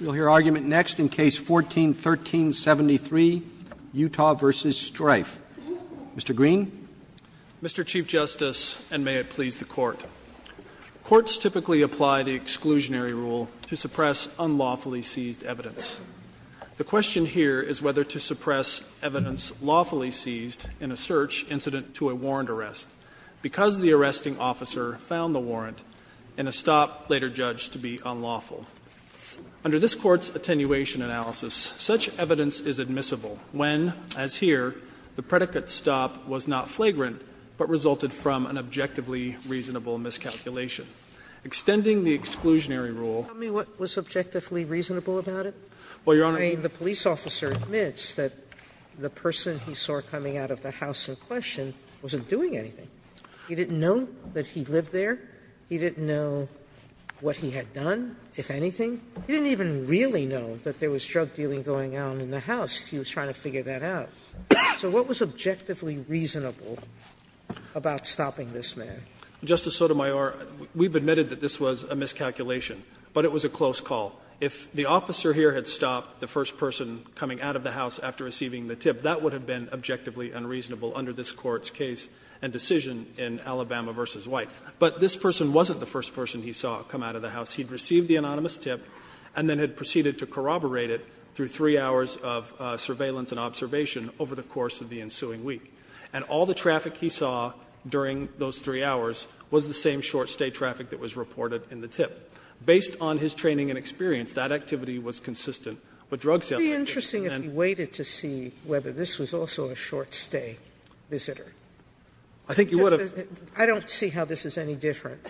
We'll hear argument next in Case 14-1373, Utah v. Strieff. Mr. Green. Mr. Chief Justice, and may it please the Court. Courts typically apply the exclusionary rule to suppress unlawfully seized evidence. The question here is whether to suppress evidence lawfully seized in a search incident to a warrant arrest because the arresting officer found the warrant in a stop later judged to be unlawful. Under this Court's attenuation analysis, such evidence is admissible when, as here, the predicate stop was not flagrant, but resulted from an objectively reasonable miscalculation. Extending the exclusionary rule- Tell me what was objectively reasonable about it? Well, Your Honor- I mean, the police officer admits that the person he saw coming out of the house in question wasn't doing anything. He didn't know that he lived there. He didn't know what he had done, if anything. He didn't even really know that there was drug dealing going on in the house. He was trying to figure that out. So what was objectively reasonable about stopping this man? Justice Sotomayor, we've admitted that this was a miscalculation, but it was a close call. If the officer here had stopped the first person coming out of the house after receiving the tip, that would have been objectively unreasonable under this Court's case and decision in Alabama v. White. But this person wasn't the first person he saw come out of the house. He'd received the anonymous tip and then had proceeded to corroborate it through three hours of surveillance and observation over the course of the ensuing week. And all the traffic he saw during those three hours was the same short-stay traffic that was reported in the tip. activities. Sotomayor, it would be interesting if we waited to see whether this was also a short-stay visitor. I don't see how this is any different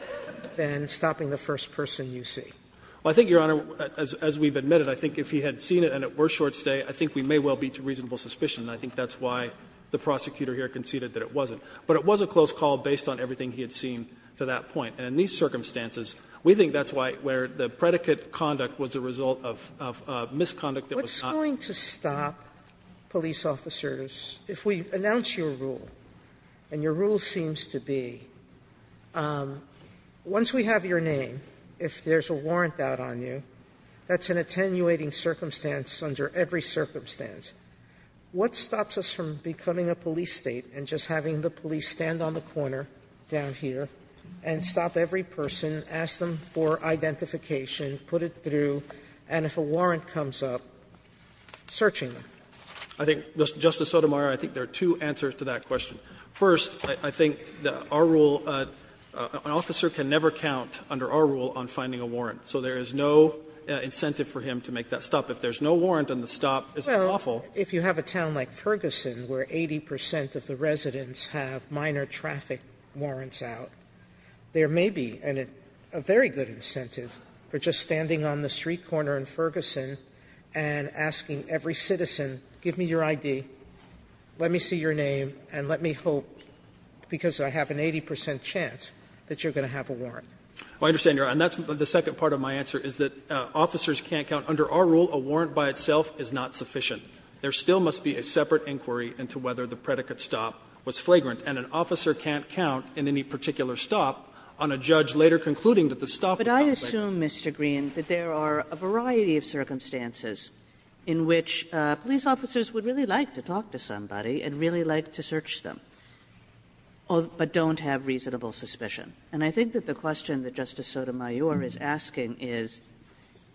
than stopping the first person you see. Well, I think, Your Honor, as we've admitted, I think if he had seen it and it were short-stay, I think we may well be to reasonable suspicion. And I think that's why the prosecutor here conceded that it wasn't. But it was a close call based on everything he had seen to that point. And in these circumstances, we think that's where the predicate conduct was the result of a misconduct that was not. Sotomayor, what's going to stop police officers, if we announce your rule, and your rule seems to be, once we have your name, if there's a warrant out on you, that's an attenuating circumstance under every circumstance, what stops us from becoming a police State and just having the police stand on the corner down here and stop every person, ask them for identification, put it through, and if a warrant comes up, searching them? I think, Justice Sotomayor, I think there are two answers to that question. First, I think that our rule, an officer can never count under our rule on finding a warrant, so there is no incentive for him to make that stop. If there's no warrant and the stop isn't lawful. Well, if you have a town like Ferguson where 80 percent of the residents have minor traffic warrants out, there may be a very good incentive for just standing on the street corner in Ferguson and asking every citizen, give me your ID, let me see your name, and let me hope, because I have an 80 percent chance, that you're going to have a warrant. Well, I understand, Your Honor, and that's the second part of my answer, is that officers can't count. Under our rule, a warrant by itself is not sufficient. There still must be a separate inquiry into whether the predicate stop was flagrant, and an officer can't count in any particular stop, on a judge later concluding that the stop was flagrant. Kagan, but I assume, Mr. Green, that there are a variety of circumstances in which police officers would really like to talk to somebody and really like to search them, but don't have reasonable suspicion. And I think that the question that Justice Sotomayor is asking is,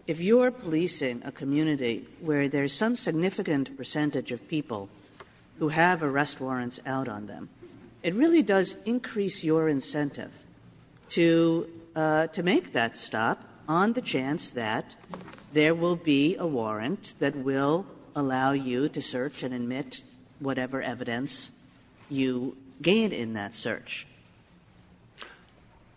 if you're policing a community where there's some significant percentage of people who have arrest warrants out on them, it really does increase your incentive to make that stop on the chance that there will be a warrant that will allow you to search and admit whatever evidence you gained in that search.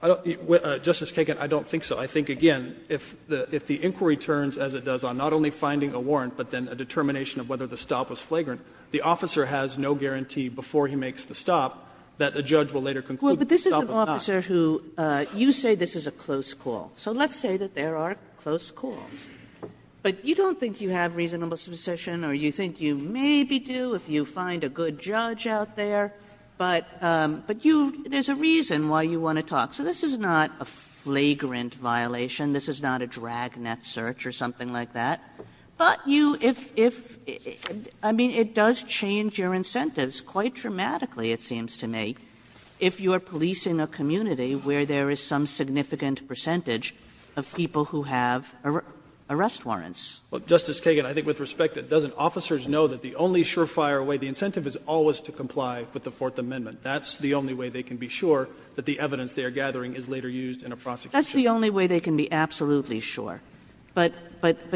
Justice Kagan, I don't think so. I think, again, if the inquiry turns, as it does, on not only finding a warrant but then a determination of whether the stop was flagrant, the officer has no guarantee before he makes the stop that the judge will later conclude that the stop was not. Kagan Well, but this is an officer who you say this is a close call. So let's say that there are close calls. But you don't think you have reasonable suspicion or you think you maybe do if you find a good judge out there, but you – there's a reason why you want to talk. So this is not a flagrant violation. This is not a dragnet search or something like that. But you – if – I mean, it does change your incentives quite dramatically, it seems to me, if you are policing a community where there is some significant percentage of people who have arrest warrants. Well, Justice Kagan, I think with respect, doesn't officers know that the only surefire way, the incentive is always to comply with the Fourth Amendment. That's the only way they can be sure that the evidence they are gathering is later used in a prosecution. That's the only way they can be absolutely sure. But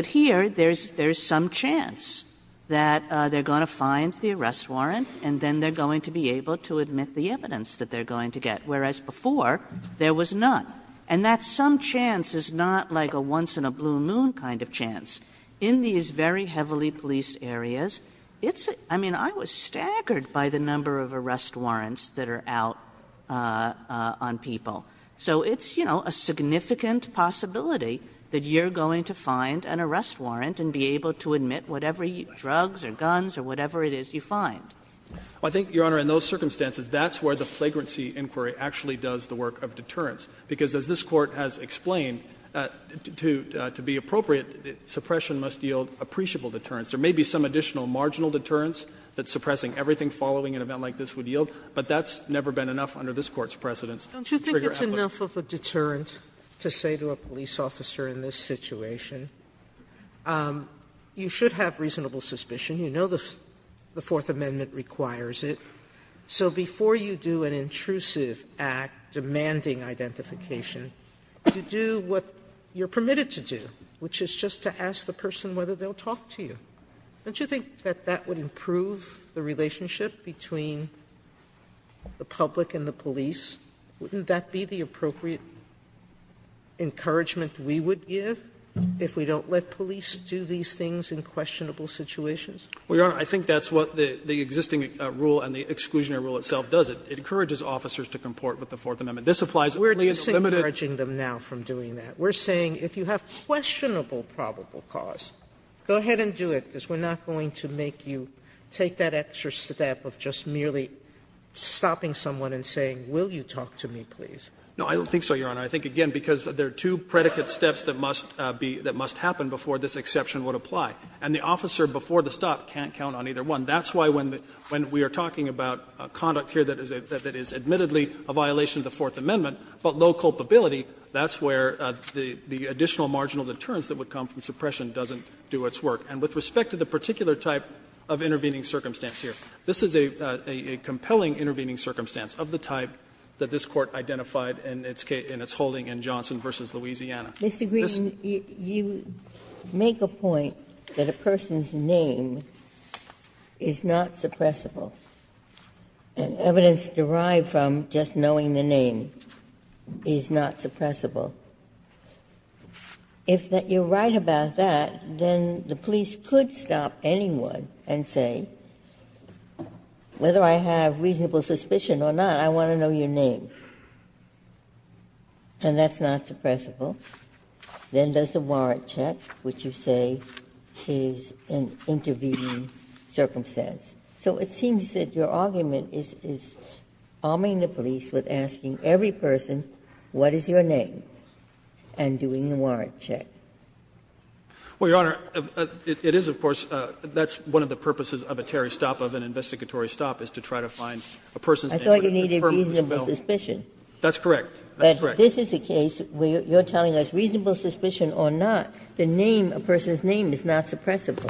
here, there is some chance that they are going to find the arrest warrant and then they are going to be able to admit the evidence that they are going to get, whereas before there was none. And that some chance is not like a once in a blue moon kind of chance. In these very heavily policed areas, it's – I mean, I was staggered by the number of arrest warrants that are out on people. So it's, you know, a significant possibility that you are going to find an arrest warrant and be able to admit whatever drugs or guns or whatever it is you find. I think, Your Honor, in those circumstances, that's where the flagrancy inquiry actually does the work of deterrence. Because as this Court has explained, to be appropriate, suppression must yield appreciable deterrence. There may be some additional marginal deterrence that suppressing everything following an event like this would yield, but that's never been enough under this Court's precedence to trigger action. Sotomayor, that's enough of a deterrent to say to a police officer in this situation, you should have reasonable suspicion, you know the Fourth Amendment requires it, so before you do an intrusive act demanding identification, you do what you are permitted to do, which is just to ask the person whether they will talk to you. Don't you think that that would improve the relationship between the public and the police? Wouldn't that be the appropriate encouragement we would give if we don't let police do these things in questionable situations? Fisherman, I think that's what the existing rule and the exclusionary rule itself does. It encourages officers to comport with the Fourth Amendment. This applies only in the limited. Sotomayor, we are disencouraging them now from doing that. We are saying if you have questionable probable cause, go ahead and do it, because we are not going to make you take that extra step of just merely stopping someone and saying, will you talk to me, please. Fisherman, I don't think so, Your Honor. I think, again, because there are two predicate steps that must be, that must happen before this exception would apply. And the officer before the stop can't count on either one. That's why when we are talking about conduct here that is admittedly a violation of the Fourth Amendment, but low culpability, that's where the additional marginal deterrence that would come from suppression doesn't do its work. And with respect to the particular type of intervening circumstance here, this is a compelling intervening circumstance of the type that this Court identified in its holding in Johnson v. Louisiana. This is a case that is not suppressive. Ginsburg. Mr. Green, you make a point that a person's name is not suppressible, and evidence derived from just knowing the name is not suppressible. If you are right about that, then the police could stop anyone and say, whether I have reasonable suspicion or not, I want to know your name, and that's not suppressible. Then there's the warrant check, which you say is an intervening circumstance. So it seems that your argument is arming the police with asking every person, what is your name, and doing the warrant check. Green, Jr. Well, Your Honor, it is, of course, that's one of the purposes of a Terry stop, of an investigatory stop, is to try to find a person's name that would confirm this bill. That's correct. That's correct. But this is a case where you're telling us reasonable suspicion or not, the name, a person's name, is not suppressible.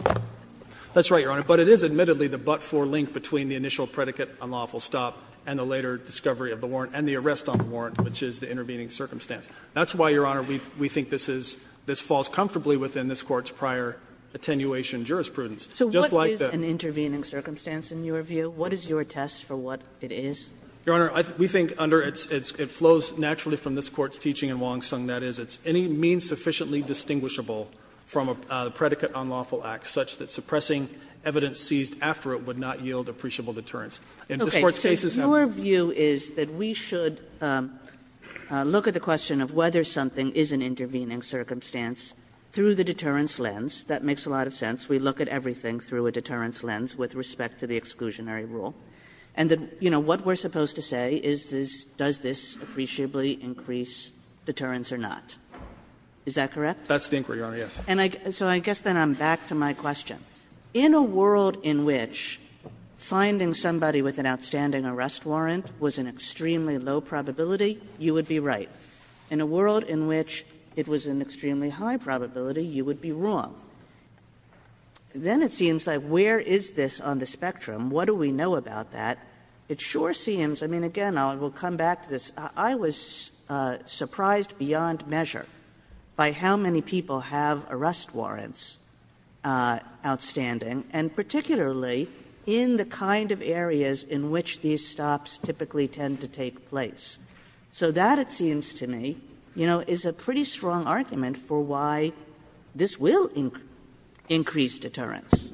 That's right, Your Honor. But it is admittedly the but-for link between the initial predicate, unlawful stop, and the later discovery of the warrant, and the arrest on the warrant, which is the intervening circumstance. That's why, Your Honor, we think this is this falls comfortably within this Court's prior attenuation jurisprudence. Just like that. So what is an intervening circumstance, in your view? What is your test for what it is? Your Honor, we think under its – it flows naturally from this Court's teaching in Wong Sung. That is, it's any means sufficiently distinguishable from a predicate unlawful act, such that suppressing evidence seized after it would not yield appreciable deterrence. And this Court's case is having that. Okay. So your view is that we should look at the question of whether something is an intervening circumstance through the deterrence lens. That makes a lot of sense. We look at everything through a deterrence lens with respect to the exclusionary rule. And the – you know, what we're supposed to say is this – does this appreciably increase deterrence or not. Is that correct? That's the inquiry, Your Honor, yes. And I – so I guess then I'm back to my question. In a world in which finding somebody with an outstanding arrest warrant was an extremely low probability, you would be right. In a world in which it was an extremely high probability, you would be wrong. Then it seems like where is this on the spectrum? What do we know about that? It sure seems – I mean, again, I will come back to this. I was surprised beyond measure by how many people have arrest warrants outstanding, and particularly in the kind of areas in which these stops typically tend to take place. So that, it seems to me, you know, is a pretty strong argument for why this will increase deterrence.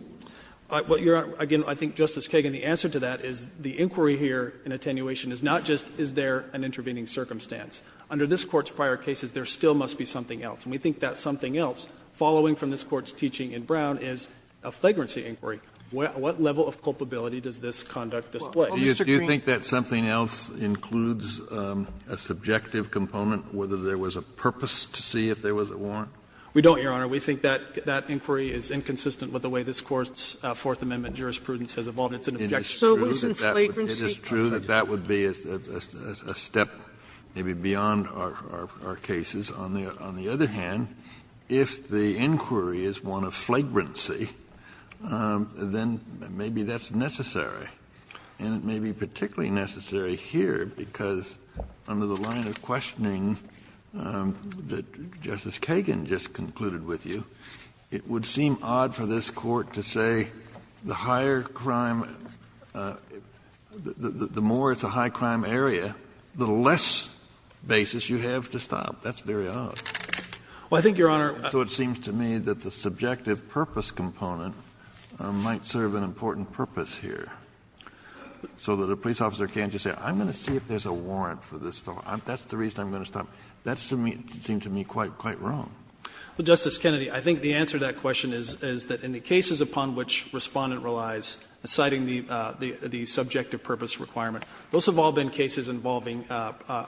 What Your Honor – again, I think, Justice Kagan, the answer to that is the inquiry here in attenuation is not just is there an intervening circumstance. Under this Court's prior cases, there still must be something else. And we think that something else, following from this Court's teaching in Brown, is a flagrancy inquiry. What level of culpability does this conduct display? Kennedy, do you think that something else includes a subjective component, whether there was a purpose to see if there was a warrant? We don't, Your Honor. We think that that inquiry is inconsistent with the way this Court's Fourth Amendment jurisprudence has evolved. It's an objection. So it isn't flagrancy? It is true that that would be a step maybe beyond our cases. On the other hand, if the inquiry is one of flagrancy, then maybe that's necessary. And it may be particularly necessary here, because under the line of questioning that Justice Kagan just concluded with you, it would seem odd for this Court to say the higher crime – the more it's a high-crime area, the less basis you have to stop. That's very odd. Well, I think, Your Honor – So it seems to me that the subjective purpose component might serve an important purpose here. So that a police officer can't just say, I'm going to see if there's a warrant for this fellow. That's the reason I'm going to stop. That seems to me quite wrong. Well, Justice Kennedy, I think the answer to that question is that in the cases upon which Respondent relies, citing the subjective purpose requirement, those have all been cases involving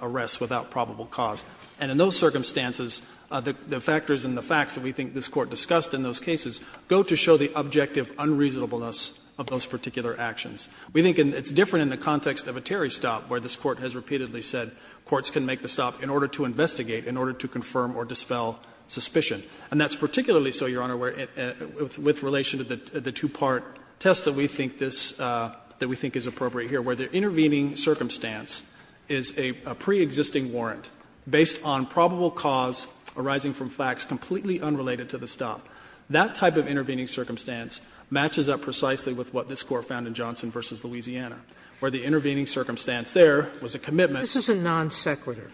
arrests without probable cause. And in those circumstances, the factors and the facts that we think this Court discussed in those cases go to show the objective unreasonableness of those particular actions. We think it's different in the context of a Terry stop, where this Court has repeatedly said courts can make the stop in order to investigate, in order to confirm or dispel suspicion. And that's particularly so, Your Honor, with relation to the two-part test that we think this – that we think is appropriate here, where the intervening circumstance is a preexisting warrant based on probable cause arising from facts completely unrelated to the stop. That type of intervening circumstance matches up precisely with what this Court found in Johnson v. Louisiana, where the intervening circumstance there was a commitment Sotomayor, this is a non sequitur.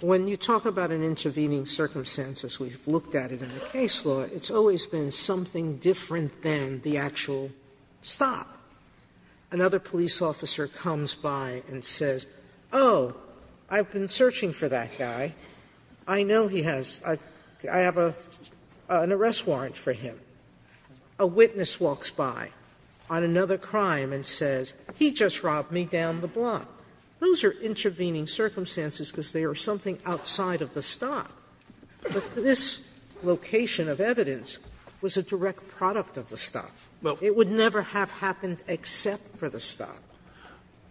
When you talk about an intervening circumstance, as we've looked at it in the case law, it's always been something different than the actual stop. Another police officer comes by and says, oh, I've been searching for that guy. I know he has – I have an arrest warrant for him. A witness walks by on another crime and says, he just robbed me down the block. Those are intervening circumstances because they are something outside of the stop. But this location of evidence was a direct product of the stop. It would never have happened except for the stop. Fisherman,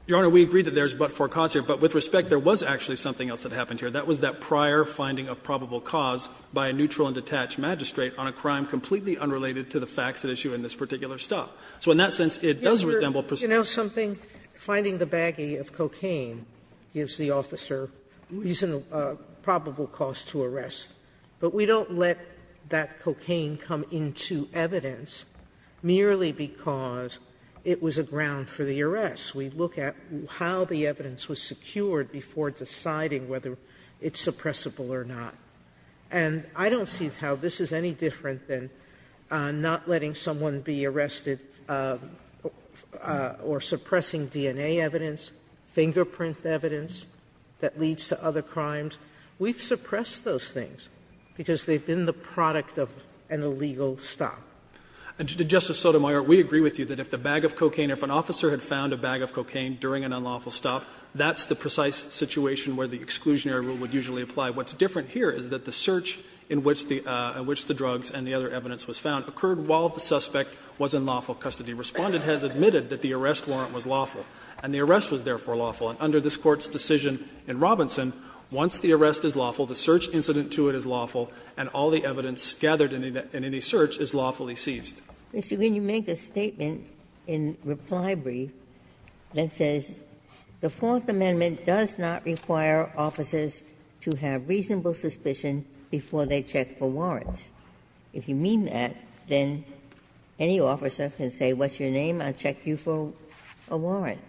Your Honor, we agree that there is but for cause here, but with respect there was actually something else that happened here. That was that prior finding of probable cause by a neutral and detached magistrate on a crime completely unrelated to the facts at issue in this particular stop. So in that sense, it does resemble precedence. Sotomayor, you know something? Finding the baggie of cocaine gives the officer probable cause to arrest, but we don't let that cocaine come into evidence merely because it was a ground for the arrest. We look at how the evidence was secured before deciding whether it's suppressible or not. And I don't see how this is any different than not letting someone be arrested or suppressing DNA evidence, fingerprint evidence that leads to other crimes. We've suppressed those things because they've been the product of an illegal stop. And, Justice Sotomayor, we agree with you that if the bag of cocaine or if an officer had found a bag of cocaine during an unlawful stop, that's the precise situation where the exclusionary rule would usually apply. What's different here is that the search in which the drugs and the other evidence was found occurred while the suspect was in lawful custody. Respondent has admitted that the arrest warrant was lawful, and the arrest was therefore lawful. And under this Court's decision in Robinson, once the arrest is lawful, the search incident to it is lawful, and all the evidence gathered in any search is lawfully seized. Ginsburg. If you're going to make a statement in reply brief that says the Fourth Amendment does not require officers to have reasonable suspicion before they check for warrants, if you mean that, then any officer can say, what's your name, I'll check you for a warrant.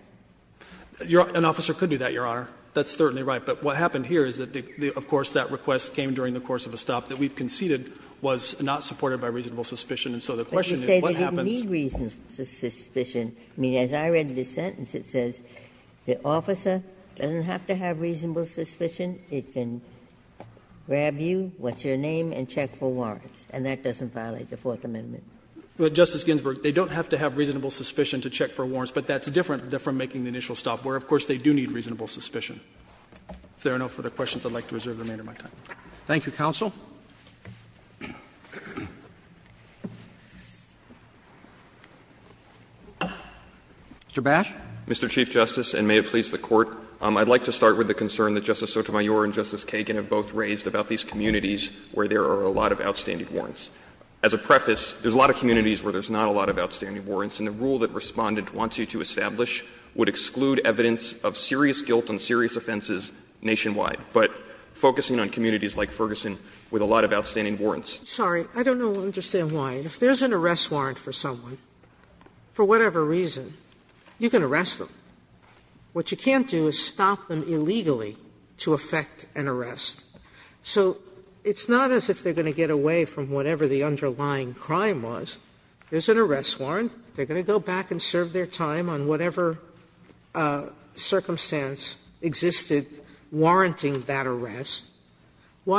An officer could do that, Your Honor. That's certainly right. But what happened here is that, of course, that request came during the course of a stop that we've conceded was not supported by reasonable suspicion. And so the question is, what happens? Ginsburg. But you say they didn't need reasonable suspicion. I mean, as I read the sentence, it says the officer doesn't have to have reasonable suspicion. It can grab you, what's your name, and check for warrants. And that doesn't violate the Fourth Amendment. Gershengorn Justice Ginsburg, they don't have to have reasonable suspicion to check for warrants, but that's different from making the initial stop, where, of course, they do need reasonable suspicion. If there are no further questions, I'd like to reserve the remainder of my time. Roberts. Thank you, counsel. Mr. Bash. Mr. Chief Justice, and may it please the Court, I'd like to start with the concern that Justice Sotomayor and Justice Kagan have both raised about these communities where there are a lot of outstanding warrants. As a preface, there's a lot of communities where there's not a lot of outstanding warrants, and the rule that Respondent wants you to establish would exclude evidence of serious guilt and serious offenses nationwide. But focusing on communities like Ferguson with a lot of outstanding warrants. Why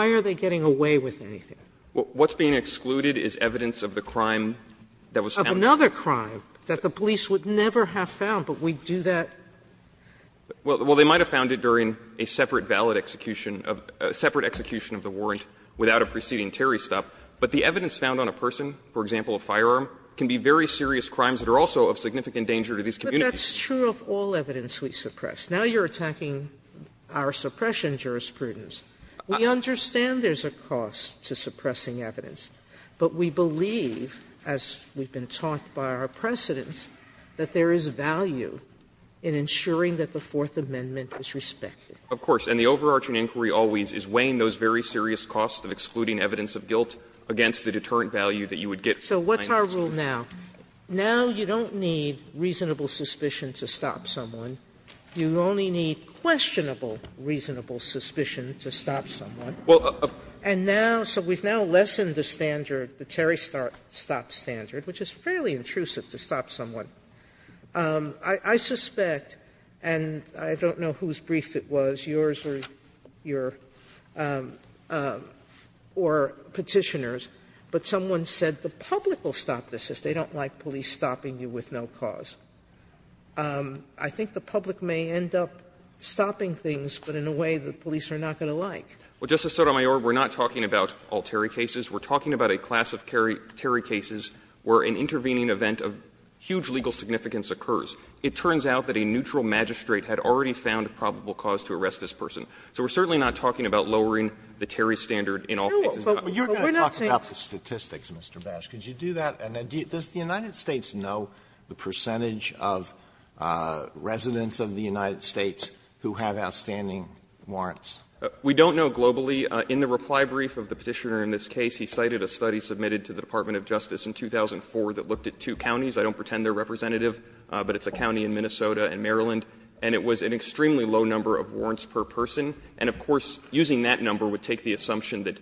are they getting away with anything? What's being excluded is evidence of the crime that was found. Of another crime that the police would never have found, but we do that. Well, they might have found it during a separate valid execution, a separate execution of the warrant without a preceding Terry stop, but the evidence found on a person, for example, a firearm, can be very serious crimes that are also of significant danger to these communities. But that's true of all evidence we suppress. Now you're attacking our suppression jurisprudence. We understand there's a cost to suppressing evidence, but we believe, as we've been taught by our precedents, that there is value in ensuring that the Fourth Amendment is respected. Of course. And the overarching inquiry always is weighing those very serious costs of excluding evidence of guilt against the deterrent value that you would get from the claim that's here. So what's our rule now? Now you don't need reasonable suspicion to stop someone. You only need questionable reasonable suspicion to stop someone. And now, so we've now lessened the standard, the Terry stop standard, which is fairly intrusive to stop someone. I suspect, and I don't know whose brief it was, yours or your or Petitioner's, but someone said the public will stop this if they don't like police stopping you with no cause. I think the public may end up stopping things, but in a way the police are not going to like. Well, Justice Sotomayor, we're not talking about all Terry cases. We're talking about a class of Terry cases where an intervening event of huge legal significance occurs. It turns out that a neutral magistrate had already found a probable cause to arrest this person. So we're certainly not talking about lowering the Terry standard in all cases. But we're not saying that the statistics, Mr. Bash, could you do that? And does the United States know the percentage of residents of the United States who have outstanding warrants? We don't know globally. In the reply brief of the Petitioner in this case, he cited a study submitted to the Department of Justice in 2004 that looked at two counties. I don't pretend they're representative, but it's a county in Minnesota and Maryland. And it was an extremely low number of warrants per person. And of course, using that number would take the assumption that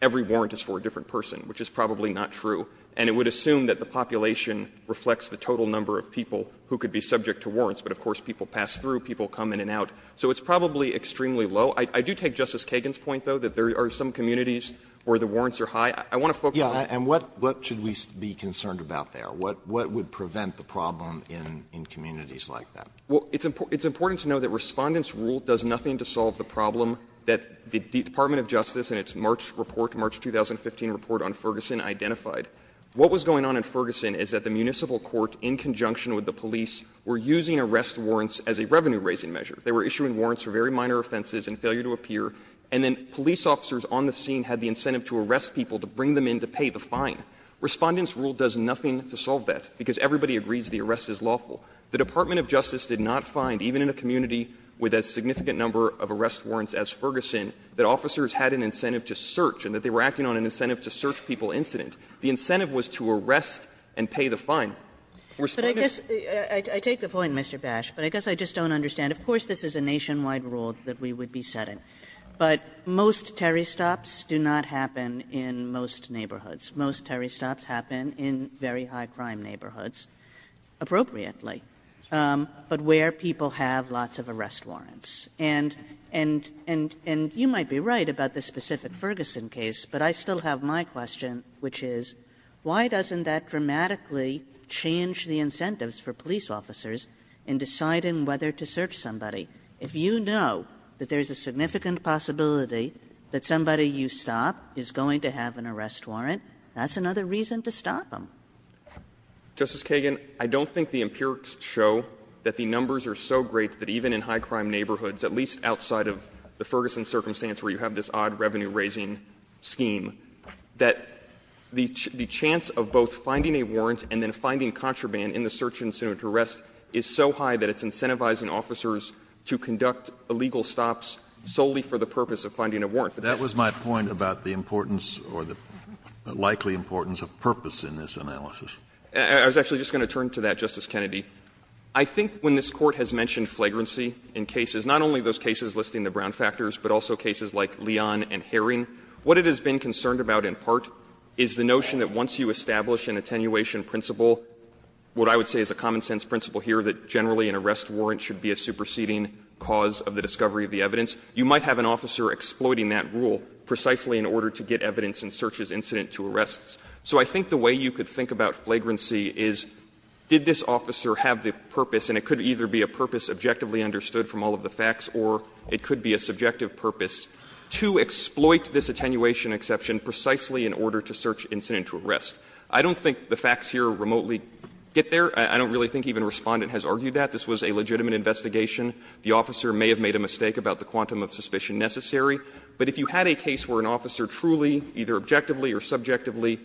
every warrant is for a different person, which is probably not true. And it would assume that the population reflects the total number of people who could be subject to warrants. But of course, people pass through, people come in and out. So it's probably extremely low. I do take Justice Kagan's point, though, that there are some communities where the warrants are high. I want to focus on that. Alito, and what should we be concerned about there? What would prevent the problem in communities like that? Well, it's important to know that Respondent's rule does nothing to solve the problem that the Department of Justice in its March report, March 2015 report on Ferguson identified. What was going on in Ferguson is that the municipal court, in conjunction with the police, were using arrest warrants as a revenue-raising measure. They were issuing warrants for very minor offenses and failure to appear. And then police officers on the scene had the incentive to arrest people to bring them in to pay the fine. Respondent's rule does nothing to solve that, because everybody agrees the arrest is lawful. The Department of Justice did not find, even in a community with a significant number of arrest warrants as Ferguson, that officers had an incentive to search and that they were acting on an incentive to search people incident. The incentive was to arrest and pay the fine. Respondent's rule does nothing to solve that. Kagan. Kagan. Kagan, I take the point, Mr. Bash, but I guess I just don't understand. Of course, this is a nationwide rule that we would be setting, but most Terry Stops do not happen in most neighborhoods. Most Terry Stops happen in very high-crime neighborhoods, appropriately, but where people have lots of arrest warrants. And you might be right about the specific Ferguson case, but I still have my question, which is, why doesn't that dramatically change the incentives for police officers in deciding whether to search somebody? If you know that there's a significant possibility that somebody you stop is going to have an arrest warrant, that's another reason to stop them. Justice Kagan, I don't think the empirics show that the numbers are so great that even in high-crime neighborhoods, at least outside of the Ferguson circumstance where you have this odd revenue-raising scheme, that the chance of both finding a warrant and then finding contraband in the search incident arrest is so high that it's incentivizing officers to conduct illegal stops solely for the purpose of finding a warrant. That was my point about the importance or the likely importance of purpose in this analysis. I was actually just going to turn to that, Justice Kennedy. I think when this Court has mentioned flagrancy in cases, not only those cases listing the brown factors, but also cases like Leon and Herring, what it has been concerned about in part is the notion that once you establish an attenuation principle, what I would say is a common-sense principle here, that generally an arrest warrant should be a superseding cause of the discovery of the evidence, you might have an officer exploiting that rule precisely in order to get evidence in search's incident to arrests. So I think the way you could think about flagrancy is, did this officer have the purpose, and it could either be a purpose objectively understood from all of the facts, or it could be a subjective purpose, to exploit this attenuation exception precisely in order to search incident to arrest. I don't think the facts here remotely get there. I don't really think even Respondent has argued that. This was a legitimate investigation. The officer may have made a mistake about the quantum of suspicion necessary. But if you had a case where an officer truly, either objectively or subjectively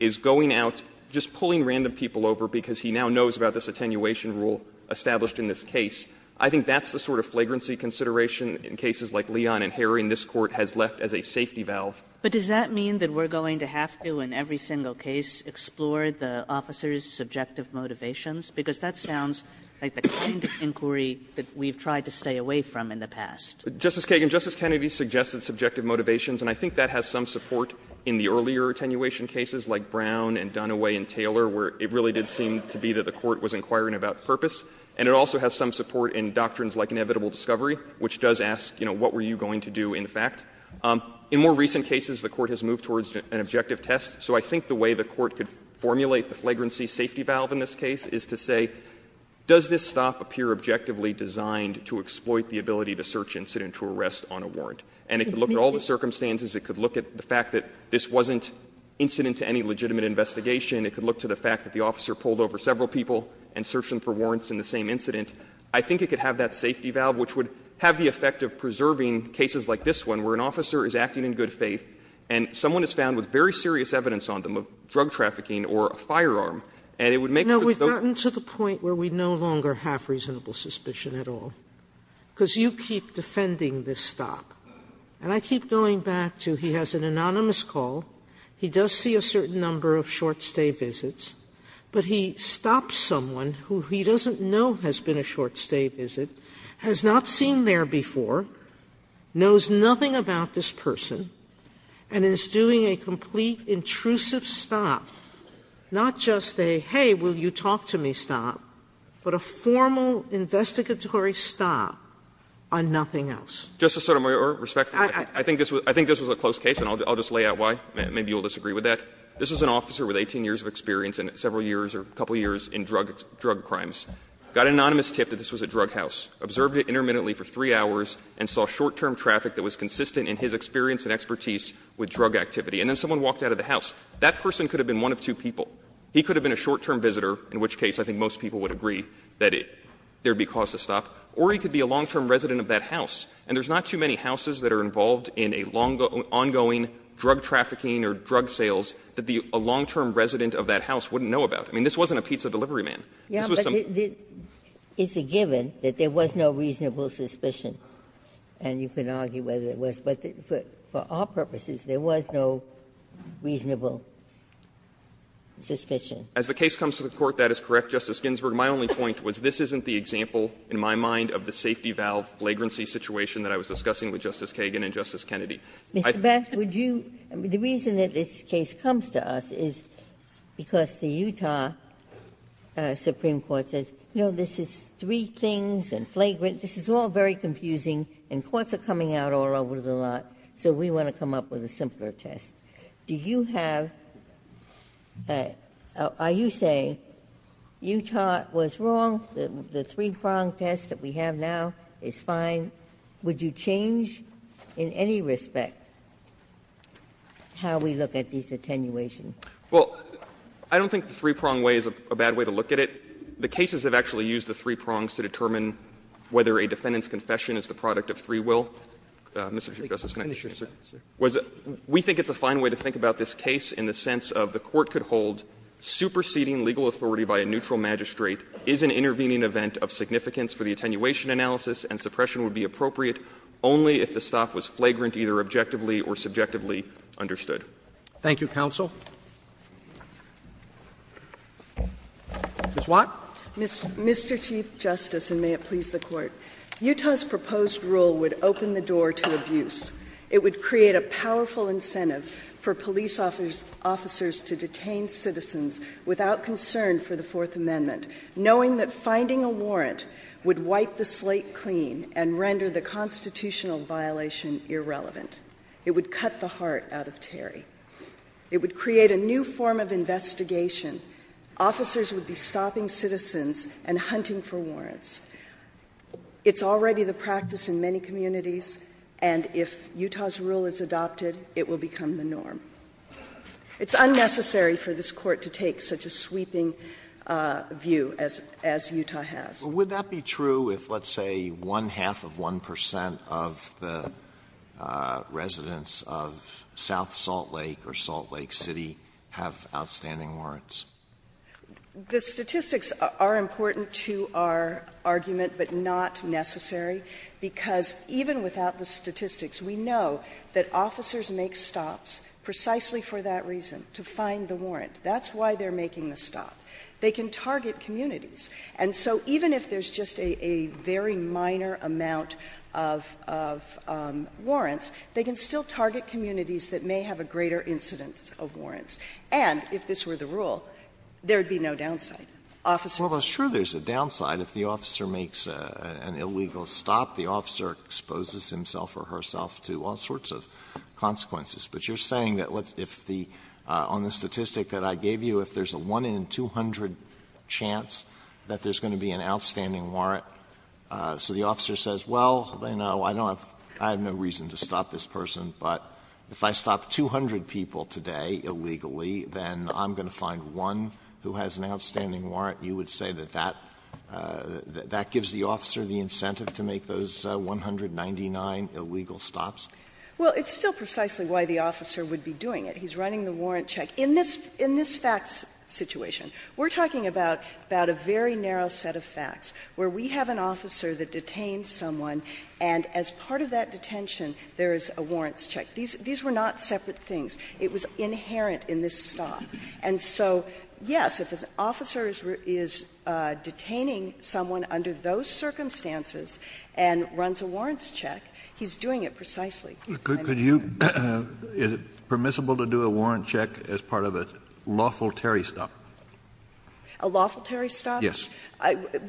is going out, just pulling random people over because he now knows about this attenuation rule established in this case, I think that's the sort of flagrancy consideration in cases like Leon and Harry in this Court has left as a safety valve. Kagan. But does that mean that we're going to have to, in every single case, explore the officer's subjective motivations? Because that sounds like the kind of inquiry that we've tried to stay away from in the past. Justice Kagan, Justice Kennedy suggested subjective motivations, and I think that has some support in the earlier attenuation cases, like Brown and Dunaway and Taylor, where it really did seem to be that the Court was inquiring about purpose. And it also has some support in doctrines like inevitable discovery, which does ask, you know, what were you going to do, in fact. In more recent cases, the Court has moved towards an objective test. So I think the way the Court could formulate the flagrancy safety valve in this case is to say, does this stop appear objectively designed to exploit the ability to search incident to arrest on a warrant? And it could look at all the circumstances. It could look at the fact that this wasn't incident to any legitimate investigation. It could look to the fact that the officer pulled over several people and searched them for warrants in the same incident. I think it could have that safety valve, which would have the effect of preserving cases like this one, where an officer is acting in good faith and someone is found with very serious evidence on them of drug trafficking or a firearm. And it would make sure that those cases are not subject to that safety valve. Sotomayor, we've gotten to the point where we no longer have reasonable suspicion at all, because you keep defending this stop. And I keep going back to he has an anonymous call, he does see a certain number of short stay visits, but he stops someone who he doesn't know has been a short stay visit, has not seen there before, knows nothing about this person, and is doing a complete intrusive stop, not just a, hey, will you talk to me stop, but a formal investigatory stop on nothing else. Just a sort of respect for that, I think this was a close case, and I'll just lay out why. Maybe you'll disagree with that. This was an officer with 18 years of experience and several years or a couple years in drug crimes, got an anonymous tip that this was a drug house, observed it intermittently for 3 hours, and saw short-term traffic that was consistent in his experience and expertise with drug activity. And then someone walked out of the house. That person could have been one of two people. He could have been a short-term visitor, in which case I think most people would agree that there would be cause to stop, or he could be a long-term resident of that house. And there's not too many houses that are involved in a long ongoing drug trafficking or drug sales that a long-term resident of that house wouldn't know about. I mean, this wasn't a pizza delivery man. This was some of the. Ginsburg, it's a given that there was no reasonable suspicion, and you can argue whether it was. But for our purposes, there was no reasonable suspicion. As the case comes to the Court, that is correct, Justice Ginsburg. My only point was this isn't the example, in my mind, of the safety valve flagrancy situation that I was discussing with Justice Kagan and Justice Kennedy. I think that's the reason that this case comes to us is because the Utah Supreme Court says, you know, this is three things, and flagrant, this is all very confusing, and courts are coming out all over the lot, so we want to come up with a simpler test. Do you have or are you saying Utah was wrong, the three-prong test that we have now is fine? Would you change in any respect how we look at these attenuations? Well, I don't think the three-prong way is a bad way to look at it. The cases have actually used the three prongs to determine whether a defendant's confession is the product of free will. Mr. Chief Justice, can I finish? We think it's a fine way to think about this case in the sense of the Court could hold superseding legal authority by a neutral magistrate is an intervening event of significance for the attenuation analysis, and suppression would be appropriate only if the stop was flagrant, either objectively or subjectively understood. Thank you, counsel. Ms. Watt. Mr. Chief Justice, and may it please the Court, Utah's proposed rule would open the door to abuse. It would create a powerful incentive for police officers to detain citizens without concern for the Fourth Amendment, knowing that finding a warrant would wipe the slate clean and render the constitutional violation irrelevant. It would cut the heart out of Terry. It would create a new form of investigation. Officers would be stopping citizens and hunting for warrants. It's already the practice in many communities, and if Utah's rule is adopted, it will become the norm. It's unnecessary for this Court to take such a sweeping view as Utah has. Alito, would that be true if, let's say, one-half of 1 percent of the residents of South Salt Lake or Salt Lake City have outstanding warrants? The statistics are important to our argument, but not necessary, because even without the statistics, we know that officers make stops precisely for that reason, to find the warrant. That's why they're making the stop. They can target communities. And so even if there's just a very minor amount of warrants, they can still target communities that may have a greater incidence of warrants. And if this were the rule, there would be no downside. Officers would not make a stop. Alito, would that be true if, let's say, one-half of 1 percent of the residents of South Salt Lake or Salt Lake City have outstanding warrants? And if this were the rule, there would be no downside. Officers would not make a stop. Alito, would that be true if, let's say, one-half of 1 percent of the residents of South Salt Lake or Salt Lake City have outstanding warrants? If I were to find a warrant today illegally, then I'm going to find one who has an outstanding warrant, you would say that that gives the officer the incentive to make those 199 illegal stops? Well, it's still precisely why the officer would be doing it. He's running the warrant check. In this facts situation, we're talking about a very narrow set of facts, where we have an officer that detains someone, and as part of that detention, there is a warrants check. These were not separate things. It was inherent in this stop. And so, yes, if an officer is detaining someone under those circumstances and runs a warrants check, he's doing it precisely. Could you — is it permissible to do a warrant check as part of a lawful Terry stop? A lawful Terry stop? Yes.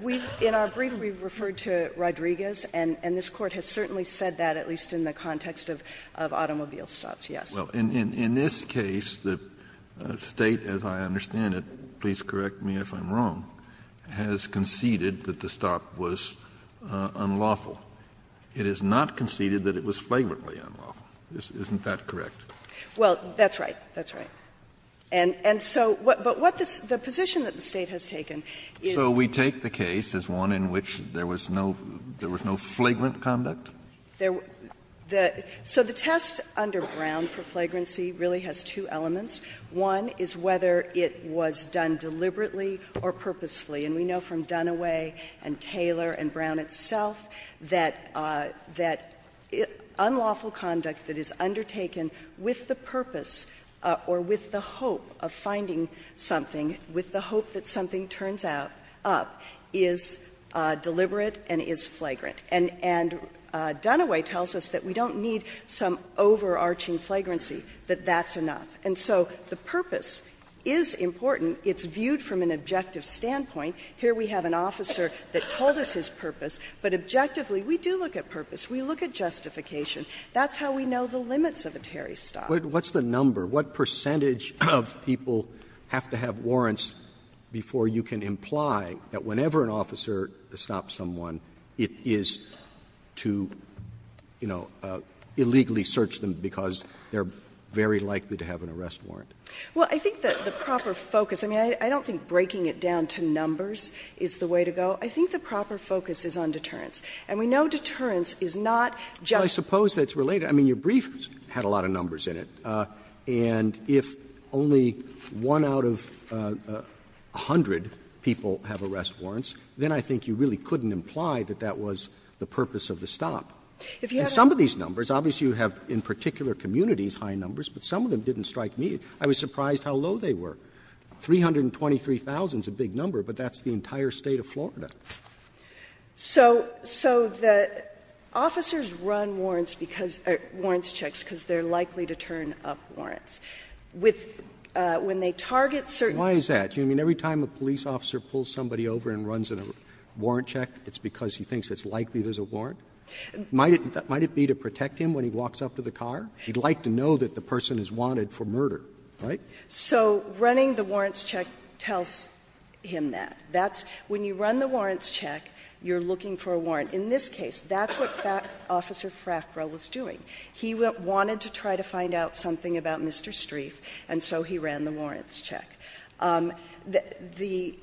We've — in our brief, we've referred to Rodriguez, and this Court has certainly said that, at least in the context of automobile stops, yes. Well, in this case, the State, as I understand it, please correct me if I'm wrong, has conceded that the stop was unlawful. It has not conceded that it was flagrantly unlawful. Isn't that correct? Well, that's right. That's right. And so what — but what the position that the State has taken is — So we take the case as one in which there was no — there was no flagrant conduct? There — the — so the test under Brown for flagrancy really has two elements. One is whether it was done deliberately or purposefully. And we know from Dunaway and Taylor and Brown itself that — that unlawful conduct that is undertaken with the purpose or with the hope of finding something, with the hope that something turns out up, is deliberate and is flagrant. And — and Dunaway tells us that we don't need some overarching flagrancy, that that's enough. And so the purpose is important. It's viewed from an objective standpoint. Here we have an officer that told us his purpose. But objectively, we do look at purpose. We look at justification. That's how we know the limits of a Terry stop. But what's the number? What percentage of people have to have warrants before you can imply that whenever an officer stops someone, it is to, you know, illegally search them because they're very likely to have an arrest warrant? Well, I think that the proper focus — I mean, I don't think breaking it down to numbers is the way to go. I think the proper focus is on deterrence. And we know deterrence is not just — Well, I suppose that's related. I mean, your brief had a lot of numbers in it. And if only one out of a hundred people have arrest warrants, then I think you really couldn't imply that that was the purpose of the stop. And some of these numbers, obviously, you have in particular communities high numbers, but some of them didn't strike me. I was surprised how low they were. 323,000 is a big number, but that's the entire State of Florida. So the officers run warrants because — warrants checks because they're likely to turn up warrants. With — when they target certain — Why is that? Do you mean every time a police officer pulls somebody over and runs a warrant check, it's because he thinks it's likely there's a warrant? Might it be to protect him when he walks up to the car? He'd like to know that the person is wanted for murder, right? So running the warrants check tells him that. That's — when you run the warrants check, you're looking for a warrant. In this case, that's what Officer Frackrow was doing. He wanted to try to find out something about Mr. Strieff, and so he ran the warrants check. The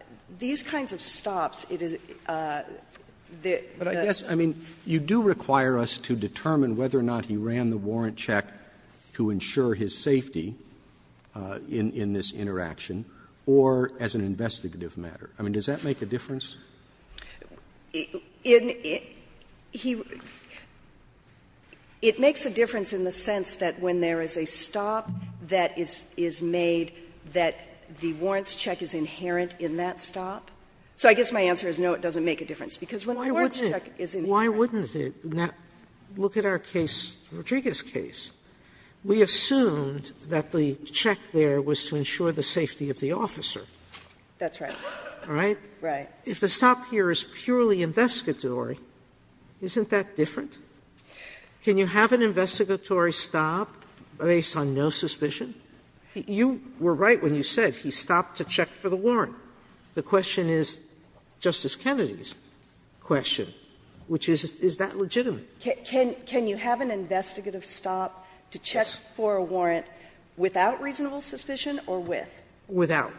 — these kinds of stops, it is — But I guess, I mean, you do require us to determine whether or not he ran the warrant check to ensure his safety in this interaction or as an investigative matter. I mean, does that make a difference? In — he — it makes a difference in the sense that when there is a stop that is made, that the warrants check is inherent in that stop. So I guess my answer is no, it doesn't make a difference, because when the warrants check is inherent. Why wouldn't it? Now, look at our case, Rodriguez's case. We assumed that the check there was to ensure the safety of the officer. That's right. All right? Right. If the stop here is purely investigatory, isn't that different? Can you have an investigatory stop based on no suspicion? You were right when you said he stopped to check for the warrant. The question is Justice Kennedy's question, which is, is that legitimate? Can you have an investigative stop to check for a warrant without reasonable suspicion or with? Without.